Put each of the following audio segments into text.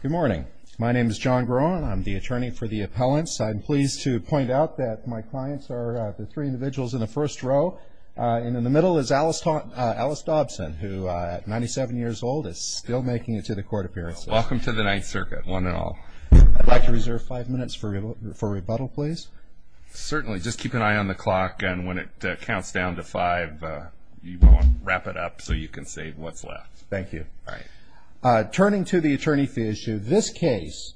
Good morning. My name is John Groen. I'm the attorney for the appellants. I'm pleased to point out that my clients are the three individuals in the first row. And in the middle is Alice Dobson, who at 97 years old is still making it to the court appearances. Welcome to the Ninth Circuit, one and all. I'd like to reserve five minutes for rebuttal, please. Certainly. Just keep an eye on the clock, and when it counts down to five, wrap it up so you can save what's left. Thank you. All right. Turning to the attorney fee issue, this case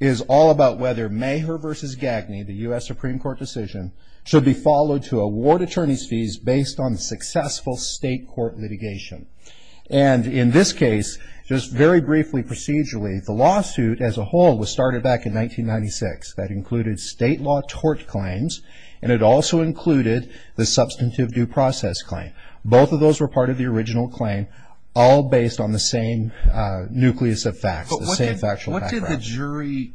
is all about whether Maher v. Gagney, the U.S. Supreme Court decision, should be followed to award attorney's fees based on successful state court litigation. And in this case, just very briefly procedurally, the lawsuit as a whole was started back in 1996. That included state law tort claims, and it also included the substantive due process claim. Both of those were part of the original claim, all based on the same nucleus of facts, the same factual background. What did the jury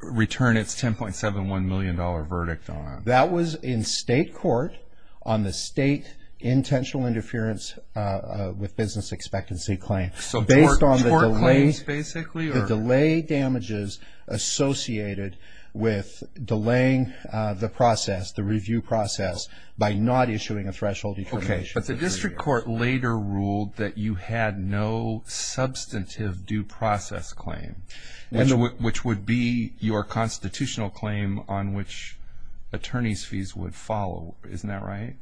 return its $10.71 million verdict on? That was in state court on the state intentional interference with business expectancy claim. So tort claims, basically? The delay damages associated with delaying the process, the review process, by not issuing a threshold determination. But the district court later ruled that you had no substantive due process claim, which would be your constitutional claim on which attorney's fees would follow. Isn't that right?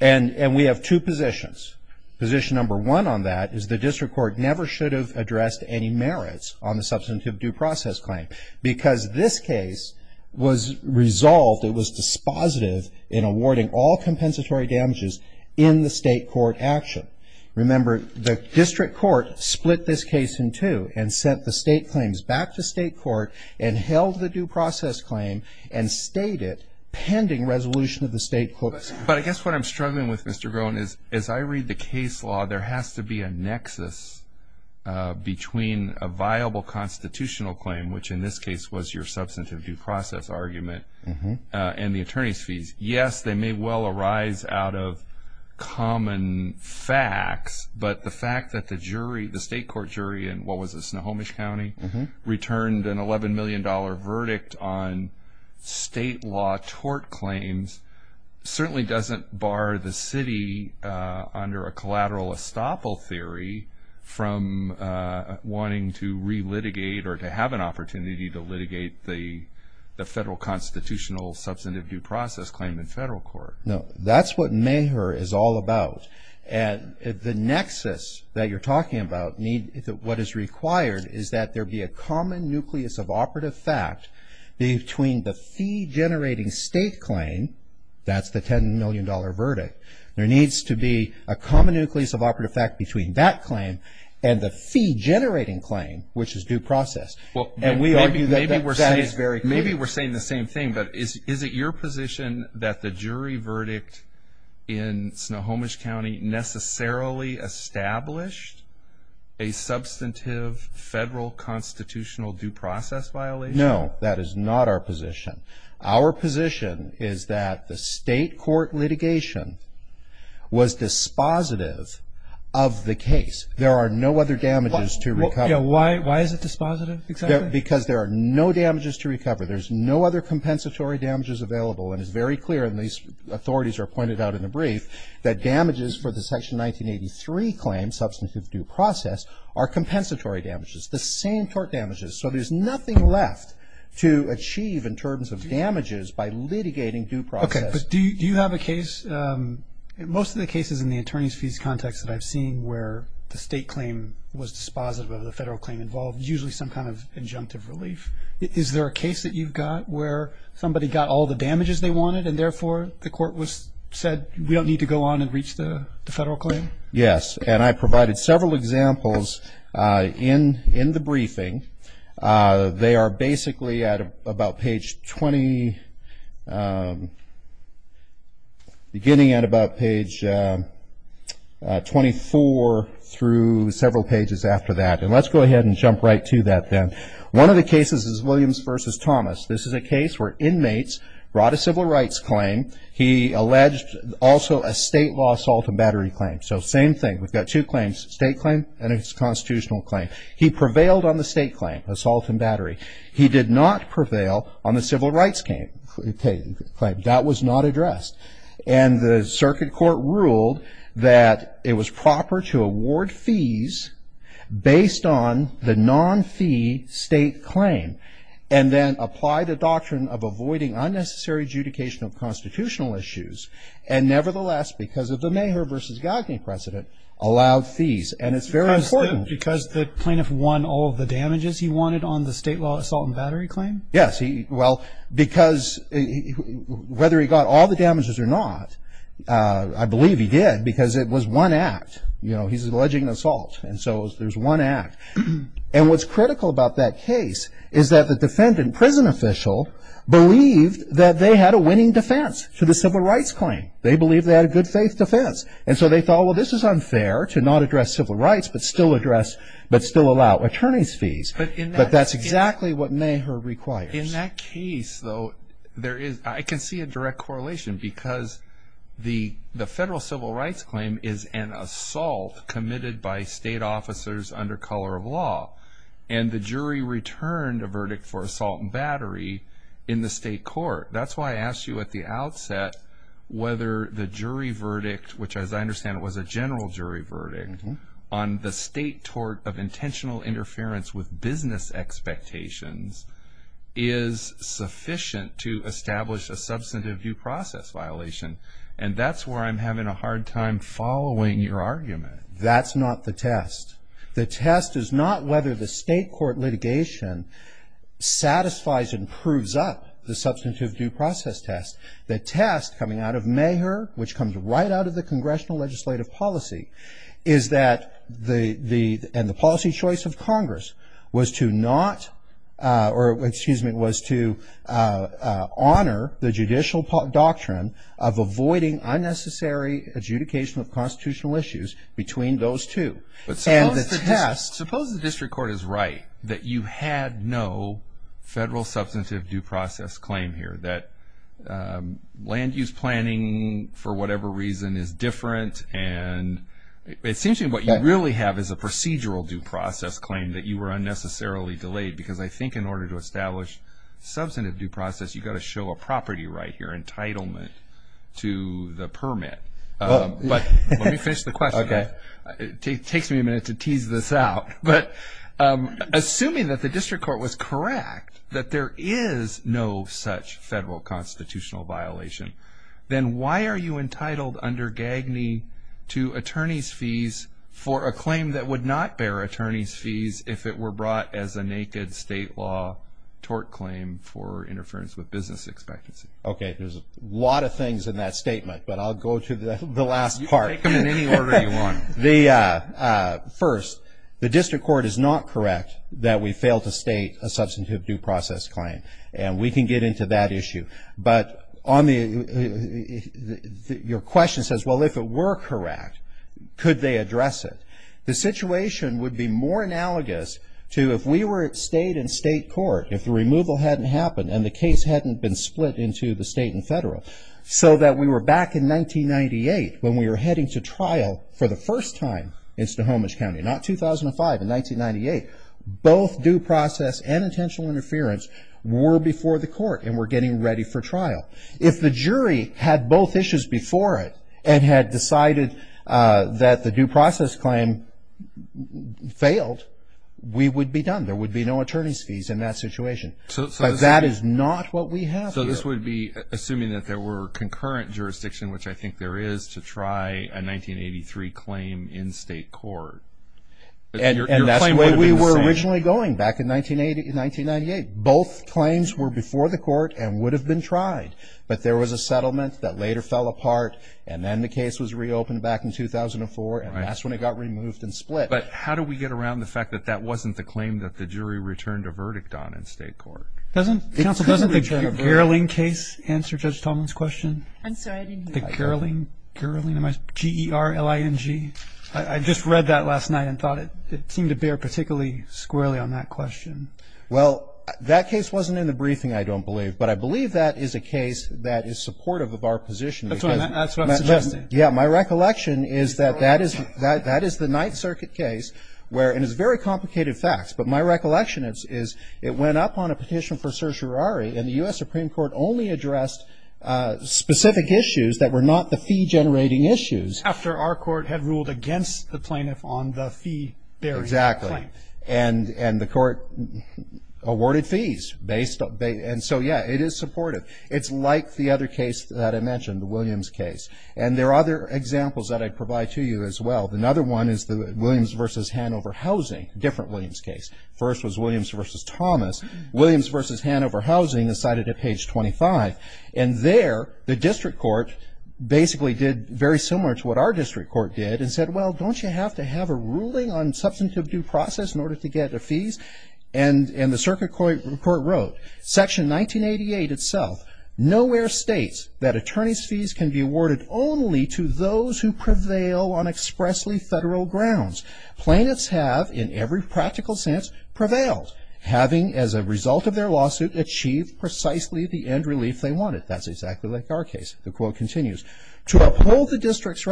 And we have two positions. Position number one on that is the district court never should have addressed any merits on the substantive due process claim because this case was resolved. It was dispositive in awarding all compensatory damages in the state court action. Remember, the district court split this case in two and sent the state claims back to state court and held the due process claim and stayed it pending resolution of the state court. But I guess what I'm struggling with, Mr. Groen, is as I read the case law, there has to be a nexus between a viable constitutional claim, which in this case was your substantive due process argument, and the attorney's fees. Yes, they may well arise out of common facts, but the fact that the jury, the state court jury in what was it, Snohomish County, returned an $11 million verdict on state law tort claims certainly doesn't bar the city under a collateral estoppel theory from wanting to relitigate or to have an opportunity to litigate the federal constitutional substantive due process claim in federal court. No, that's what MAHER is all about. The nexus that you're talking about, what is required, is that there be a common nucleus of operative fact between the fee-generating state claim, that's the $10 million verdict, there needs to be a common nucleus of operative fact between that claim and the fee-generating claim, which is due process. And we argue that that is very clear. Maybe we're saying the same thing, but is it your position that the jury verdict in Snohomish County necessarily established a substantive federal constitutional due process violation? No, that is not our position. Our position is that the state court litigation was dispositive of the case. There are no other damages to recover. Why is it dispositive, exactly? Because there are no damages to recover. There's no other compensatory damages available, and it's very clear, and these authorities are pointed out in the brief, that damages for the Section 1983 claim, substantive due process, are compensatory damages, the same tort damages. So there's nothing left to achieve in terms of damages by litigating due process. Okay, but do you have a case, most of the cases in the attorney's fees context that I've seen where the state claim was dispositive of the federal claim involved, usually some kind of injunctive relief. Is there a case that you've got where somebody got all the damages they wanted and therefore the court said we don't need to go on and reach the federal claim? Yes, and I provided several examples in the briefing. They are basically at about page 20, beginning at about page 24, through several pages after that. And let's go ahead and jump right to that then. One of the cases is Williams v. Thomas. This is a case where inmates brought a civil rights claim. He alleged also a state law assault and battery claim. So same thing. We've got two claims, state claim and a constitutional claim. He prevailed on the state claim, assault and battery. He did not prevail on the civil rights claim. That was not addressed. And the circuit court ruled that it was proper to award fees based on the non-fee state claim and then apply the doctrine of avoiding unnecessary adjudication of constitutional issues. And nevertheless, because of the Maher v. Gagne precedent, allowed fees. And it's very important. Because the plaintiff won all of the damages he wanted on the state law assault and battery claim? Yes. Well, because whether he got all the damages or not, I believe he did because it was one act. You know, he's alleging an assault, and so there's one act. And what's critical about that case is that the defendant, prison official, believed that they had a winning defense to the civil rights claim. They believed they had a good faith defense. And so they thought, well, this is unfair to not address civil rights but still allow attorney's fees. But that's exactly what Maher requires. In that case, though, I can see a direct correlation because the federal civil rights claim is an assault committed by state officers under color of law. And the jury returned a verdict for assault and battery in the state court. That's why I asked you at the outset whether the jury verdict, which as I understand it was a general jury verdict, on the state tort of intentional interference with business expectations is sufficient to establish a substantive due process violation. And that's where I'm having a hard time following your argument. That's not the test. The test is not whether the state court litigation satisfies and proves up the substantive due process test. The test coming out of Maher, which comes right out of the congressional legislative policy, is that the policy choice of Congress was to honor the judicial doctrine of avoiding unnecessary adjudication of constitutional issues between those two. But suppose the district court is right that you had no federal substantive due process claim here, that land use planning for whatever reason is different and it seems to me what you really have is a procedural due process claim that you were unnecessarily delayed because I think in order to establish substantive due process, you've got to show a property right here, entitlement to the permit. But let me finish the question. It takes me a minute to tease this out. But assuming that the district court was correct, that there is no such federal constitutional violation, then why are you entitled under Gagney to attorney's fees for a claim that would not bear attorney's fees if it were brought as a naked state law tort claim for interference with business expectancy? Okay, there's a lot of things in that statement, but I'll go to the last part. You can take them in any order you want. First, the district court is not correct that we failed to state a substantive due process claim. And we can get into that issue. But your question says, well, if it were correct, could they address it? The situation would be more analogous to if we stayed in state court, if the removal hadn't happened and the case hadn't been split into the state and federal, so that we were back in 1998 when we were heading to trial for the first time in Snohomish County, not 2005, in 1998. Both due process and intentional interference were before the court and were getting ready for trial. If the jury had both issues before it and had decided that the due process claim failed, we would be done. There would be no attorney's fees in that situation. But that is not what we have here. So this would be assuming that there were concurrent jurisdictions, which I think there is, to try a 1983 claim in state court. And that's the way we were originally going back in 1998. Both claims were before the court and would have been tried. But there was a settlement that later fell apart, and then the case was reopened back in 2004, and that's when it got removed and split. But how do we get around the fact that that wasn't the claim that the jury returned a verdict on in state court? Doesn't the Gerling case answer Judge Tomlin's question? I'm sorry, I didn't hear that. The Gerling? Gerling? G-E-R-L-I-N-G? I just read that last night and thought it seemed to bear particularly squarely on that question. Well, that case wasn't in the briefing, I don't believe. But I believe that is a case that is supportive of our position. That's what I'm suggesting. Yeah, my recollection is that that is the Ninth Circuit case, and it's very complicated facts. But my recollection is it went up on a petition for certiorari, and the U.S. Supreme Court only addressed specific issues that were not the fee-generating issues. After our court had ruled against the plaintiff on the fee-bearing claim. Exactly. And the court awarded fees. And so, yeah, it is supportive. It's like the other case that I mentioned, the Williams case. And there are other examples that I provide to you as well. Another one is the Williams v. Hanover Housing, different Williams case. First was Williams v. Thomas. Williams v. Hanover Housing is cited at page 25. And there, the district court basically did very similar to what our district court did and said, well, don't you have to have a ruling on substantive due process in order to get the fees? And the circuit court wrote, section 1988 itself, nowhere states that attorney's fees can be awarded only to those who prevail on expressly federal grounds. Plaintiffs have, in every practical sense, prevailed, having as a result of their lawsuit achieved precisely the end relief they wanted. That's exactly like our case. The quote continues. To uphold the district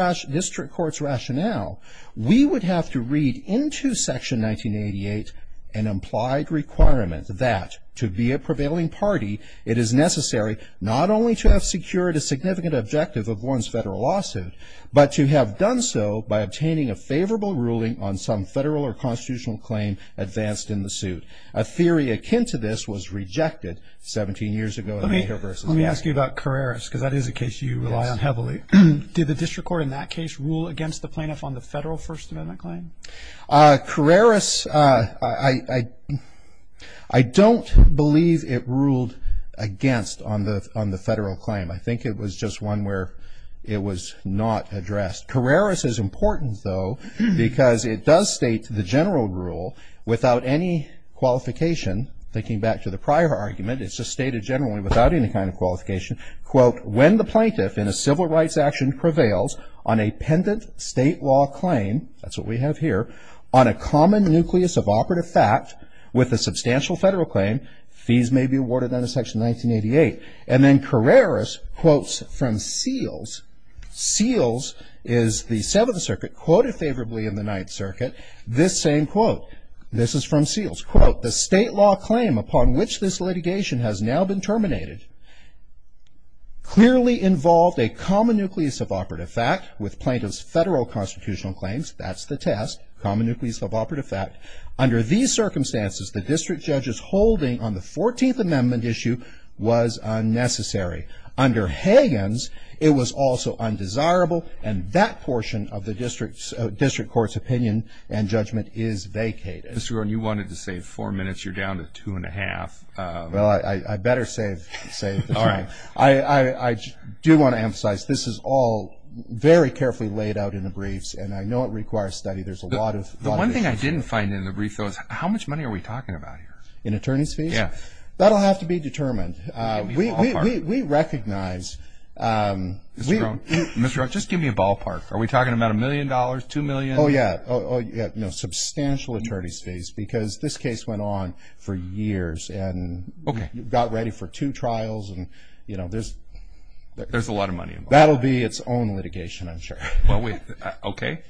court's rationale, we would have to read into section 1988 an implied requirement that to be a prevailing party, it is necessary not only to have secured a significant objective of one's federal lawsuit, but to have done so by obtaining a favorable ruling on some federal or constitutional claim advanced in the suit. A theory akin to this was rejected 17 years ago. Let me ask you about Carreras, because that is a case you rely on heavily. Did the district court in that case rule against the plaintiff on the federal First Amendment claim? Carreras, I don't believe it ruled against on the federal claim. I think it was just one where it was not addressed. Carreras is important, though, because it does state the general rule without any qualification. Thinking back to the prior argument, it's just stated generally without any kind of qualification. Quote, when the plaintiff in a civil rights action prevails on a pendent state law claim, that's what we have here, on a common nucleus of operative fact with a substantial federal claim, fees may be awarded under section 1988. And then Carreras quotes from Seals. Seals is the Seventh Circuit, quoted favorably in the Ninth Circuit. This same quote, this is from Seals. Quote, the state law claim upon which this litigation has now been terminated clearly involved a common nucleus of operative fact with plaintiff's federal constitutional claims. That's the test, common nucleus of operative fact. Under these circumstances, the district judge's holding on the 14th Amendment issue was unnecessary. Under Higgins, it was also undesirable, and that portion of the district court's opinion and judgment is vacated. Mr. Rohn, you wanted to save four minutes. You're down to two and a half. Well, I better save the time. All right. I do want to emphasize this is all very carefully laid out in the briefs, and I know it requires study. There's a lot of issues. The one thing I didn't find in the brief, though, is how much money are we talking about here? In attorney's fees? Yes. That will have to be determined. Give me a ballpark. We recognize. Mr. Rohn, just give me a ballpark. Are we talking about $1 million, $2 million? Oh, yeah. Substantial attorney's fees because this case went on for years and got ready for two trials. There's a lot of money involved. That will be its own litigation, I'm sure. Okay.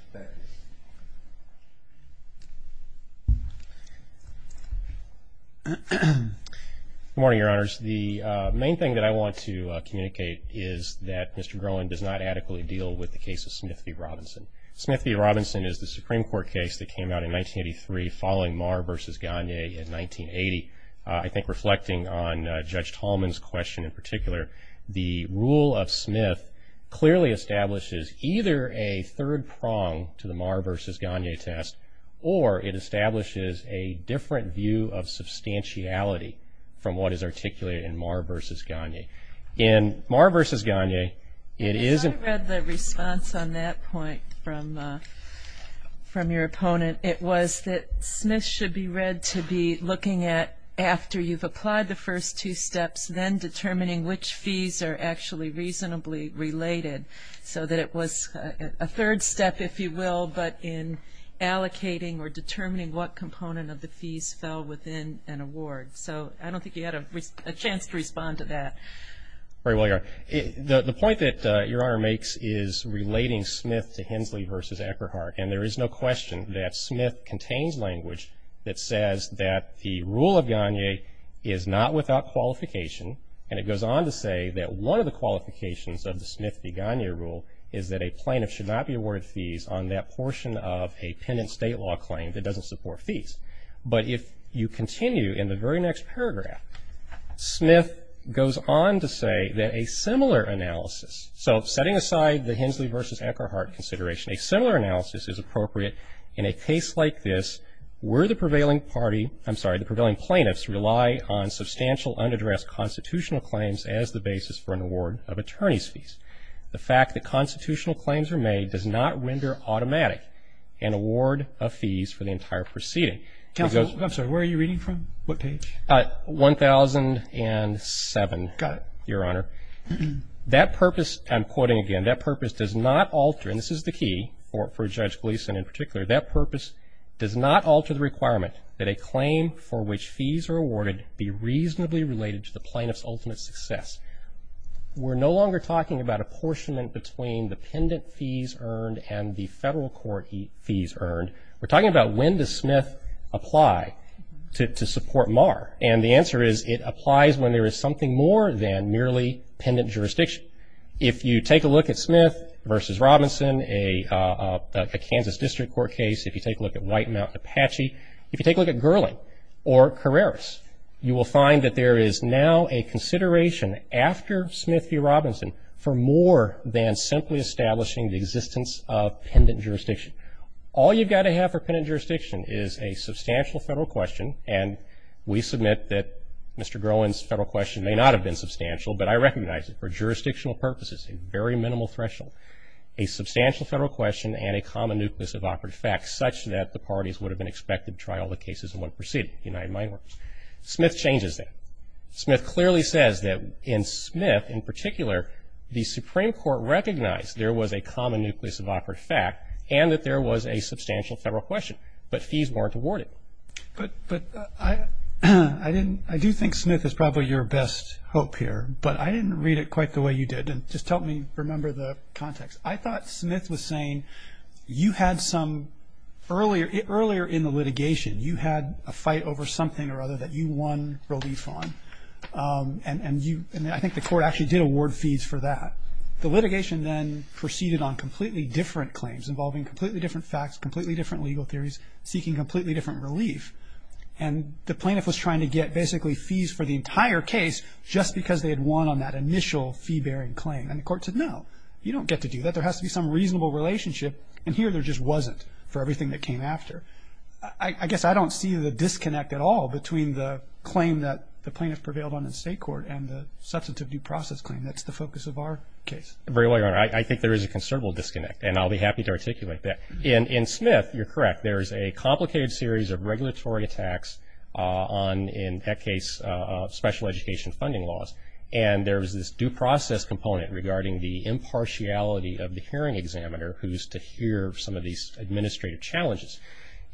Good morning, Your Honors. The main thing that I want to communicate is that Mr. Groen does not adequately deal with the case of Smith v. Robinson. Smith v. Robinson is the Supreme Court case that came out in 1983 following Maher v. Gagne in 1980. I think reflecting on Judge Tallman's question in particular, the rule of Smith clearly establishes either a third prong to the Maher v. Gagne test or it establishes a different view of substantiality from what is articulated in Maher v. Gagne. In Maher v. Gagne, it isn't. As I read the response on that point from your opponent, it was that Smith should be read to be looking at after you've applied the first two steps, then determining which fees are actually reasonably related so that it was a third step, if you will, but in allocating or determining what component of the fees fell within an award. So I don't think you had a chance to respond to that. Very well, Your Honor. The point that Your Honor makes is relating Smith to Hensley v. Eckerhart, and there is no question that Smith contains language that says that the rule of Gagne is not without qualification, and it goes on to say that one of the qualifications of the Smith v. Gagne rule is that a plaintiff should not be awarded fees on that portion of a penitent state law claim that doesn't support fees. But if you continue in the very next paragraph, Smith goes on to say that a similar analysis, so setting aside the Hensley v. Eckerhart consideration, a similar analysis is appropriate in a case like this where the prevailing party, I'm sorry, the prevailing plaintiffs rely on substantial unaddressed constitutional claims as the basis for an award of attorney's fees. The fact that constitutional claims are made does not render automatic an award of fees for the entire proceeding. Counsel, I'm sorry, where are you reading from? What page? 1007. Got it. Your Honor. That purpose, I'm quoting again, that purpose does not alter, and this is the key for Judge Gleeson in particular, that purpose does not alter the requirement that a claim for which fees are awarded be reasonably related to the plaintiff's ultimate success. We're no longer talking about apportionment between the pendant fees earned and the federal court fees earned. We're talking about when does Smith apply to support Marr, and the answer is it applies when there is something more than merely pendant jurisdiction. If you take a look at Smith v. Robinson, a Kansas District Court case, if you take a look at White Mountain Apache, if you take a look at Gerling or Carreras, you will find that there is now a consideration after Smith v. Robinson for more than simply establishing the existence of pendant jurisdiction. All you've got to have for pendant jurisdiction is a substantial federal question, and we submit that Mr. Groen's federal question may not have been substantial, but I recognize it for jurisdictional purposes, a very minimal threshold, a substantial federal question, and a common nucleus of operative facts, such that the parties would have been expected to try all the cases in one proceeding, the United Mine Workers. Smith changes that. Smith clearly says that in Smith in particular, the Supreme Court recognized there was a common nucleus of operative fact and that there was a substantial federal question, but fees weren't awarded. But I do think Smith is probably your best hope here, but I didn't read it quite the way you did. Just help me remember the context. I thought Smith was saying you had some earlier in the litigation, you had a fight over something or other that you won relief on, and I think the court actually did award fees for that. The litigation then proceeded on completely different claims involving completely different facts, completely different legal theories, seeking completely different relief, and the plaintiff was trying to get basically fees for the entire case just because they had won on that initial fee-bearing claim. And the court said, no, you don't get to do that. There has to be some reasonable relationship, and here there just wasn't for everything that came after. I guess I don't see the disconnect at all between the claim that the plaintiff prevailed on in state court and the substantive due process claim. That's the focus of our case. Very well, Your Honor. I think there is a considerable disconnect, and I'll be happy to articulate that. In Smith, you're correct, there is a complicated series of regulatory attacks on, in that case, special education funding laws, and there is this due process component regarding the impartiality of the hearing examiner who is to hear some of these administrative challenges.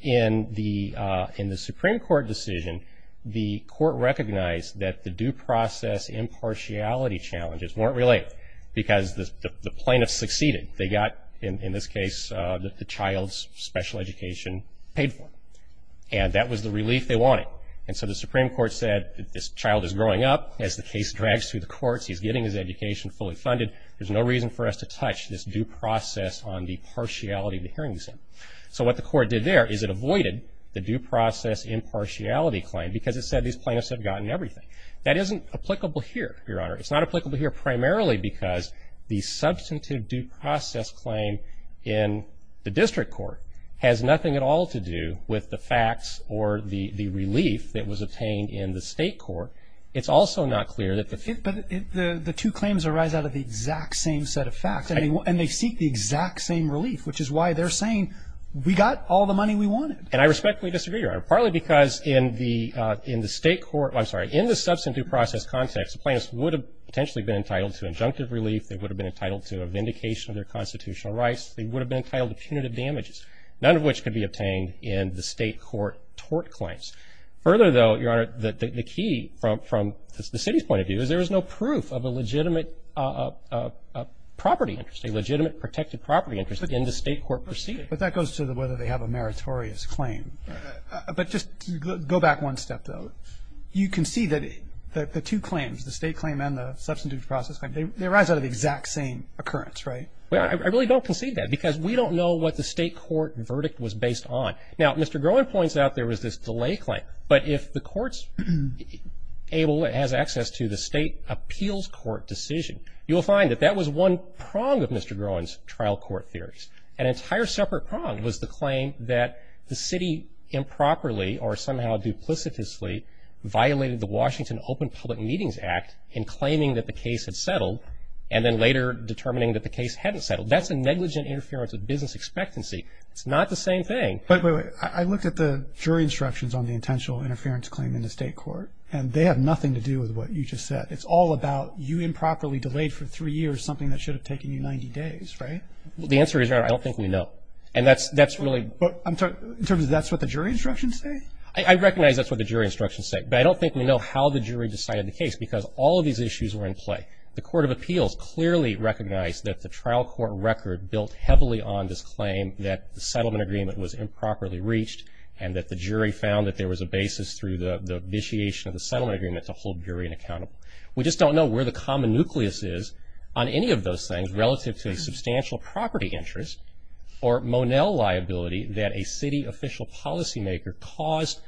In the Supreme Court decision, the court recognized that the due process impartiality challenges weren't related because the plaintiff succeeded. They got, in this case, the child's special education paid for, and that was the relief they wanted. And so the Supreme Court said this child is growing up. As the case drags through the courts, he's getting his education fully funded. There's no reason for us to touch this due process on the partiality of the hearing exam. So what the court did there is it avoided the due process impartiality claim because it said these plaintiffs had gotten everything. That isn't applicable here, Your Honor. It's not applicable here primarily because the substantive due process claim in the district court has nothing at all to do with the facts or the relief that was obtained in the state court. It's also not clear that the ---- But the two claims arise out of the exact same set of facts, and they seek the exact same relief, which is why they're saying we got all the money we wanted. And I respectfully disagree, Your Honor, partly because in the state court ---- I'm sorry, in the substantive due process context, the plaintiffs would have potentially been entitled to injunctive relief. They would have been entitled to a vindication of their constitutional rights. They would have been entitled to punitive damages, none of which could be obtained in the state court tort claims. Further, though, Your Honor, the key from the city's point of view is there is no proof of a legitimate property interest, a legitimate protected property interest in the state court proceeding. But that goes to whether they have a meritorious claim. But just go back one step, though. You can see that the two claims, the state claim and the substantive due process claim, they arise out of the exact same occurrence, right? I really don't concede that because we don't know what the state court verdict was based on. Now, Mr. Groen points out there was this delay claim. But if the courts has access to the state appeals court decision, you will find that that was one prong of Mr. Groen's trial court theories. An entire separate prong was the claim that the city improperly or somehow duplicitously violated the Washington Open Public Meetings Act in claiming that the case had settled and then later determining that the case hadn't settled. That's a negligent interference of business expectancy. It's not the same thing. Wait, wait, wait. I looked at the jury instructions on the intentional interference claim in the state court, and they have nothing to do with what you just said. It's all about you improperly delayed for three years something that should have taken you 90 days, right? Well, the answer is, Your Honor, I don't think we know. And that's really – But in terms of that's what the jury instructions say? I recognize that's what the jury instructions say. But I don't think we know how the jury decided the case because all of these issues were in play. The Court of Appeals clearly recognized that the trial court record built heavily on this claim that the settlement agreement was improperly reached and that the jury found that there was a basis through the initiation of the settlement agreement to hold the jury inaccountable. We just don't know where the common nucleus is on any of those things relative to a substantial property interest or Monell liability that a city official policymaker caused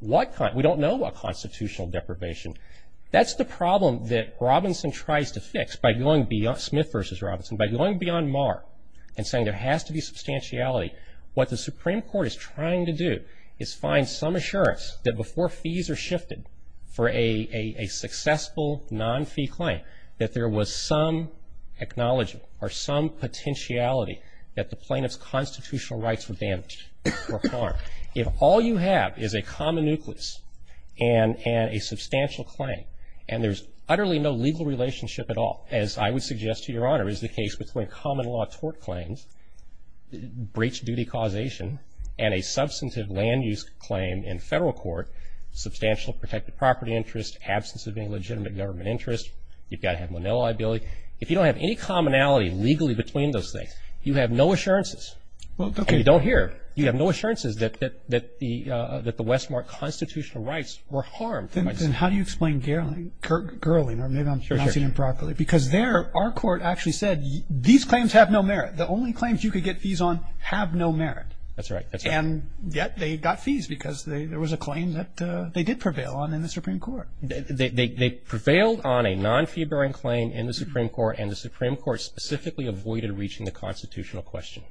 what kind – we don't know what constitutional deprivation. That's the problem that Robinson tries to fix by going – Smith v. Robinson – by going beyond Marr and saying there has to be substantiality. What the Supreme Court is trying to do is find some assurance that before fees are shifted for a successful non-fee claim that there was some acknowledgement or some potentiality that the plaintiff's constitutional rights were damaged or harmed. If all you have is a common nucleus and a substantial claim and there's utterly no legal relationship at all, as I would suggest to Your Honor, is the case between common law tort claims, breach of duty causation, and a substantive land use claim in federal court, substantial protected property interest, absence of any legitimate government interest, you've got to have Monell liability. If you don't have any commonality legally between those things, you have no assurances. If you don't hear, you have no assurances that the Westmark constitutional rights were harmed. Then how do you explain Gerling or maybe I'm pronouncing it improperly? Because there our court actually said these claims have no merit. The only claims you could get fees on have no merit. That's right. And yet they got fees because there was a claim that they did prevail on in the Supreme Court. They prevailed on a non-fee bearing claim in the Supreme Court and the Supreme Court specifically avoided reaching the constitutional question.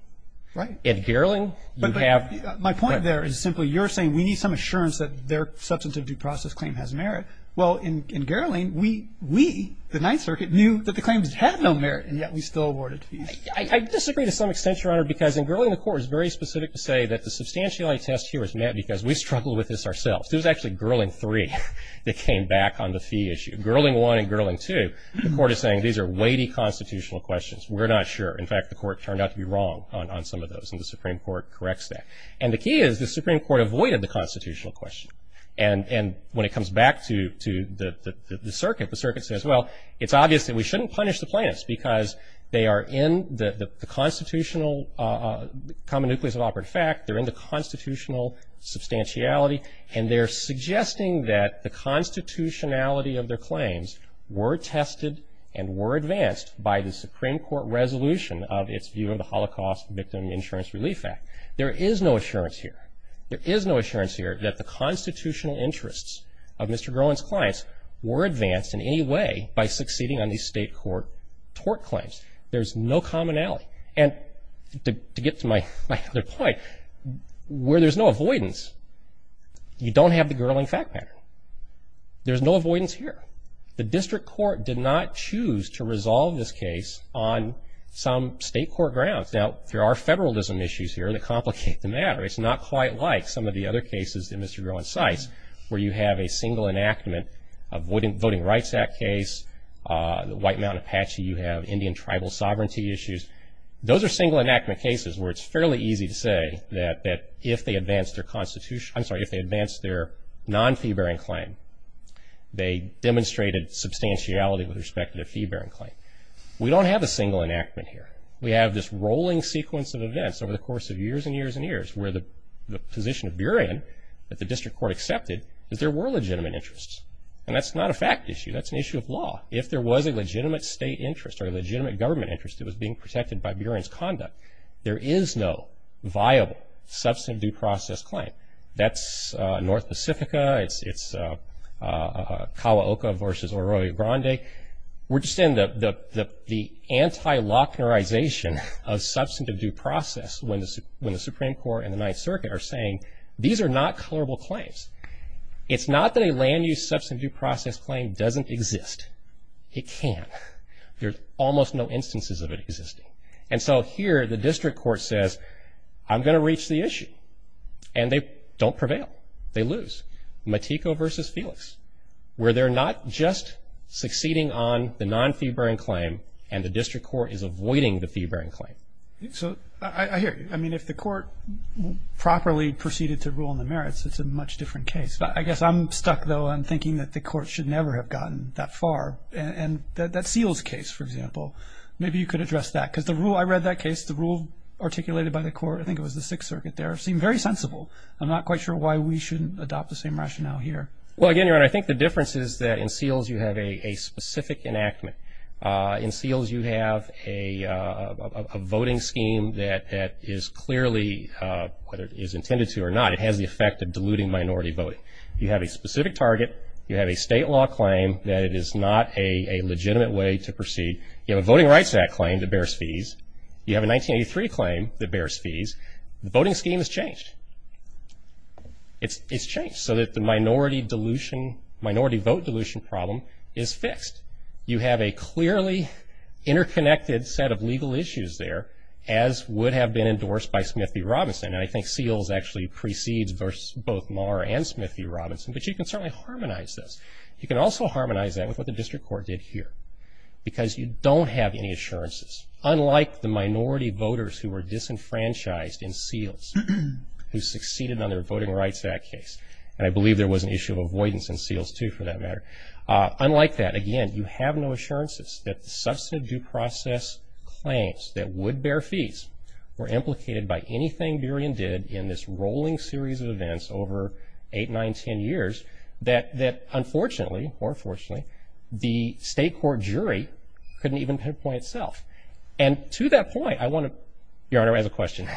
Right. At Gerling, you have. But my point there is simply you're saying we need some assurance that their substantive due process claim has merit. Well, in Gerling, we, the Ninth Circuit, knew that the claims had no merit and yet we still awarded fees. I disagree to some extent, Your Honor, because in Gerling the court is very specific to say that the substantiality test here was met because we struggled with this ourselves. It was actually Gerling 3 that came back on the fee issue. Gerling 1 and Gerling 2, the court is saying these are weighty constitutional questions. We're not sure. In fact, the court turned out to be wrong on some of those and the Supreme Court corrects that. And the key is the Supreme Court avoided the constitutional question. And when it comes back to the circuit, the circuit says, well, it's obvious that we shouldn't punish the plaintiffs because they are in the constitutional common nucleus of operative fact, they're in the constitutional substantiality, and they're suggesting that the constitutionality of their claims were tested and were advanced by the Supreme Court resolution of its view of the Holocaust Victim Insurance Relief Act. There is no assurance here. There is no assurance here that the constitutional interests of Mr. Gerling's clients were advanced in any way by succeeding on these state court tort claims. There's no commonality. And to get to my other point, where there's no avoidance, you don't have the Gerling fact pattern. There's no avoidance here. The district court did not choose to resolve this case on some state court grounds. Now, there are federalism issues here that complicate the matter. It's not quite like some of the other cases in Mr. Gerling's sites where you have a single enactment of Voting Rights Act case, the White Mountain Apache, you have Indian tribal sovereignty issues. Those are single enactment cases where it's fairly easy to say that if they advanced their non-fee-bearing claim, they demonstrated substantiality with respect to their fee-bearing claim. We don't have a single enactment here. We have this rolling sequence of events over the course of years and years and years where the position of Burien that the district court accepted is there were legitimate interests. And that's not a fact issue. That's an issue of law. If there was a legitimate state interest or a legitimate government interest that was being protected by Burien's conduct, there is no viable substantive due process claim. That's North Pacifica. It's Kawaoka versus Arroyo Grande. We're just in the anti-locknerization of substantive due process when the Supreme Court and the Ninth Circuit are saying these are not clearable claims. It's not that a land-use substantive due process claim doesn't exist. It can. There's almost no instances of it existing. And so here the district court says, I'm going to reach the issue. And they don't prevail. They lose. Matejko versus Felix where they're not just succeeding on the non-fee-bearing claim and the district court is avoiding the fee-bearing claim. So I hear you. I mean, if the court properly proceeded to rule on the merits, it's a much different case. I guess I'm stuck, though, on thinking that the court should never have gotten that far. And that Seals case, for example, maybe you could address that. Because the rule I read that case, the rule articulated by the court, I think it was the Sixth Circuit there, seemed very sensible. I'm not quite sure why we shouldn't adopt the same rationale here. Well, again, Your Honor, I think the difference is that in Seals you have a specific enactment. In Seals you have a voting scheme that is clearly, whether it is intended to or not, it has the effect of diluting minority voting. You have a specific target. You have a state law claim that it is not a legitimate way to proceed. You have a Voting Rights Act claim that bears fees. You have a 1983 claim that bears fees. The voting scheme has changed. It's changed so that the minority vote dilution problem is fixed. You have a clearly interconnected set of legal issues there, as would have been endorsed by Smith v. Robinson. And I think Seals actually precedes both Maher and Smith v. Robinson. But you can certainly harmonize this. You can also harmonize that with what the district court did here. Because you don't have any assurances, unlike the minority voters who were disenfranchised in Seals, who succeeded on their voting rights in that case. And I believe there was an issue of avoidance in Seals, too, for that matter. Unlike that, again, you have no assurances that the substantive due process claims that would bear fees were implicated by anything Burien did in this rolling series of events over 8, 9, 10 years, that unfortunately, or fortunately, the state court jury couldn't even pinpoint itself. And to that point, I want to ‑‑ Your Honor, I have a question.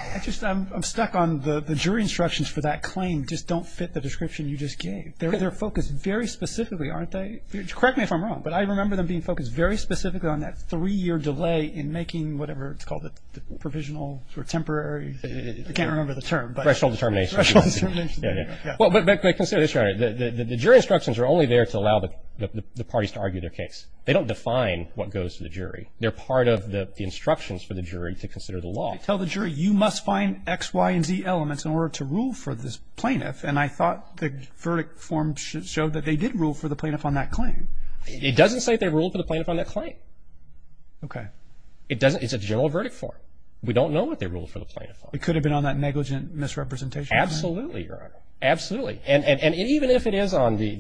I'm stuck on the jury instructions for that claim just don't fit the description you just gave. They're focused very specifically, aren't they? Correct me if I'm wrong, but I remember them being focused very specifically on that three‑year delay in making whatever it's called, the provisional or temporary. I can't remember the term. Threshold determination. Threshold determination. Yeah, yeah. But consider this, Your Honor. The jury instructions are only there to allow the parties to argue their case. They don't define what goes to the jury. They're part of the instructions for the jury to consider the law. They tell the jury, you must find X, Y, and Z elements in order to rule for this plaintiff. And I thought the verdict form showed that they did rule for the plaintiff on that claim. It doesn't say they ruled for the plaintiff on that claim. Okay. It doesn't. It's a general verdict form. We don't know what they ruled for the plaintiff on. It could have been on that negligent misrepresentation claim. Absolutely, Your Honor. Absolutely. And even if it is on the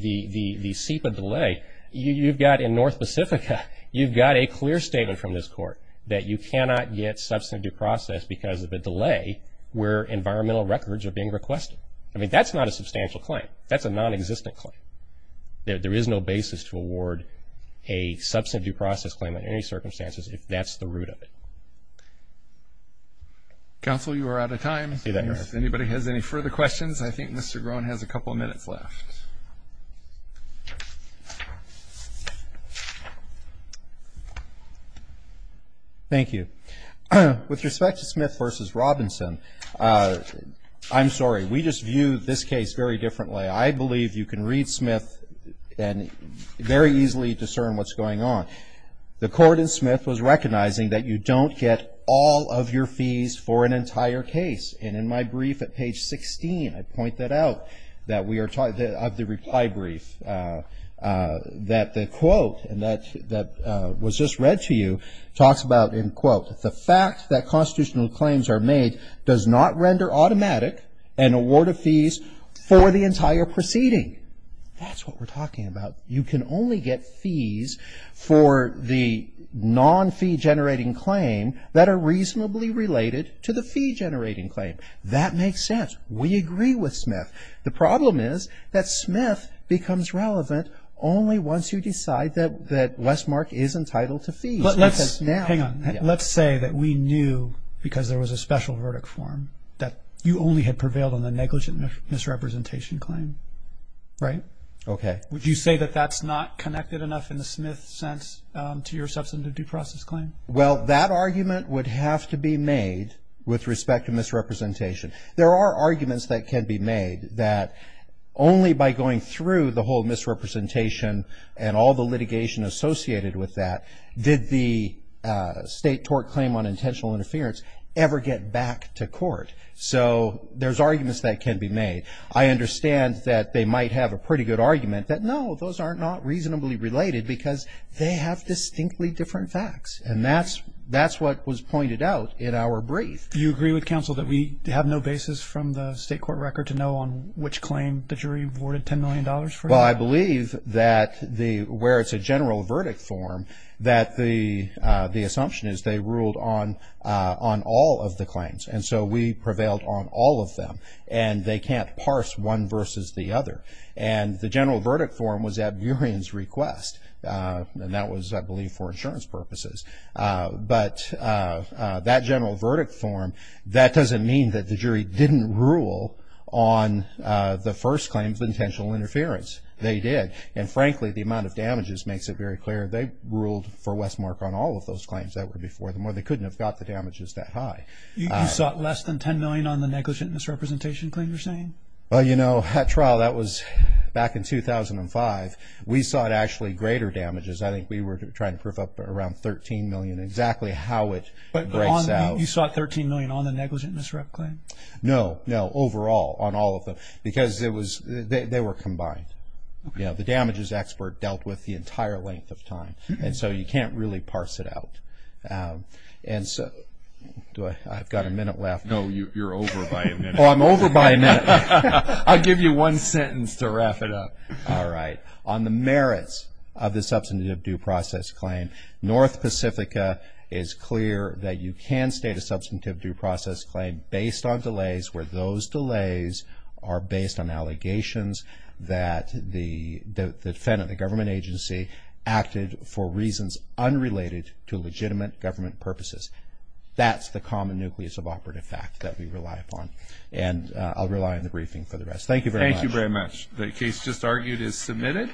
SEPA delay, you've got in North Pacifica, you've got a clear statement from this court that you cannot get substantive due process because of a delay where environmental records are being requested. I mean, that's not a substantial claim. That's a nonexistent claim. There is no basis to award a substantive due process claim under any circumstances if that's the root of it. Counsel, you are out of time. I see that, Your Honor. If anybody has any further questions, I think Mr. Groen has a couple of minutes left. Thank you. With respect to Smith v. Robinson, I'm sorry. We just view this case very differently. I believe you can read Smith and very easily discern what's going on. The court in Smith was recognizing that you don't get all of your fees for an entire case. And in my brief at page 16, I point that out, that we are talking of the reply brief, that the quote that was just read to you talks about, in quote, the fact that constitutional claims are made does not render automatic an award of fees for the entire proceeding. That's what we're talking about. You can only get fees for the non-fee-generating claim that are reasonably related to the fee-generating claim. That makes sense. We agree with Smith. The problem is that Smith becomes relevant only once you decide that Westmark is entitled to fees. But let's hang on. Let's say that we knew, because there was a special verdict form, that you only had prevailed on the negligent misrepresentation claim, right? Okay. Would you say that that's not connected enough in the Smith sense to your substantive due process claim? Well, that argument would have to be made with respect to misrepresentation. There are arguments that can be made that only by going through the whole misrepresentation and all the litigation associated with that did the state tort claim on intentional interference ever get back to court. So there's arguments that can be made. I understand that they might have a pretty good argument that, no, those are not reasonably related because they have distinctly different facts. And that's what was pointed out in our brief. Do you agree with counsel that we have no basis from the state court record to know on which claim the jury awarded $10 million for? Well, I believe that where it's a general verdict form, that the assumption is they ruled on all of the claims. And so we prevailed on all of them. And they can't parse one versus the other. And the general verdict form was at Burien's request, and that was, I believe, for insurance purposes. But that general verdict form, that doesn't mean that the jury didn't rule on the first claim of intentional interference. They did. And, frankly, the amount of damages makes it very clear they ruled for Westmark on all of those claims that were before them, or they couldn't have got the damages that high. You sought less than $10 million on the negligent misrepresentation claim, you're saying? Well, you know, that trial, that was back in 2005. We sought actually greater damages. I think we were trying to proof up around $13 million, exactly how it breaks out. But you sought $13 million on the negligent misrep claim? No, no, overall, on all of them. Because they were combined. You know, the damages expert dealt with the entire length of time. And so you can't really parse it out. And so I've got a minute left. No, you're over by a minute. Oh, I'm over by a minute. I'll give you one sentence to wrap it up. All right. On the merits of the substantive due process claim, North Pacifica is clear that you can state a substantive due process claim based on delays where those delays are based on allegations that the defendant, the government agency, acted for reasons unrelated to legitimate government purposes. That's the common nucleus of operative fact that we rely upon. And I'll rely on the briefing for the rest. Thank you very much. The case just argued is submitted.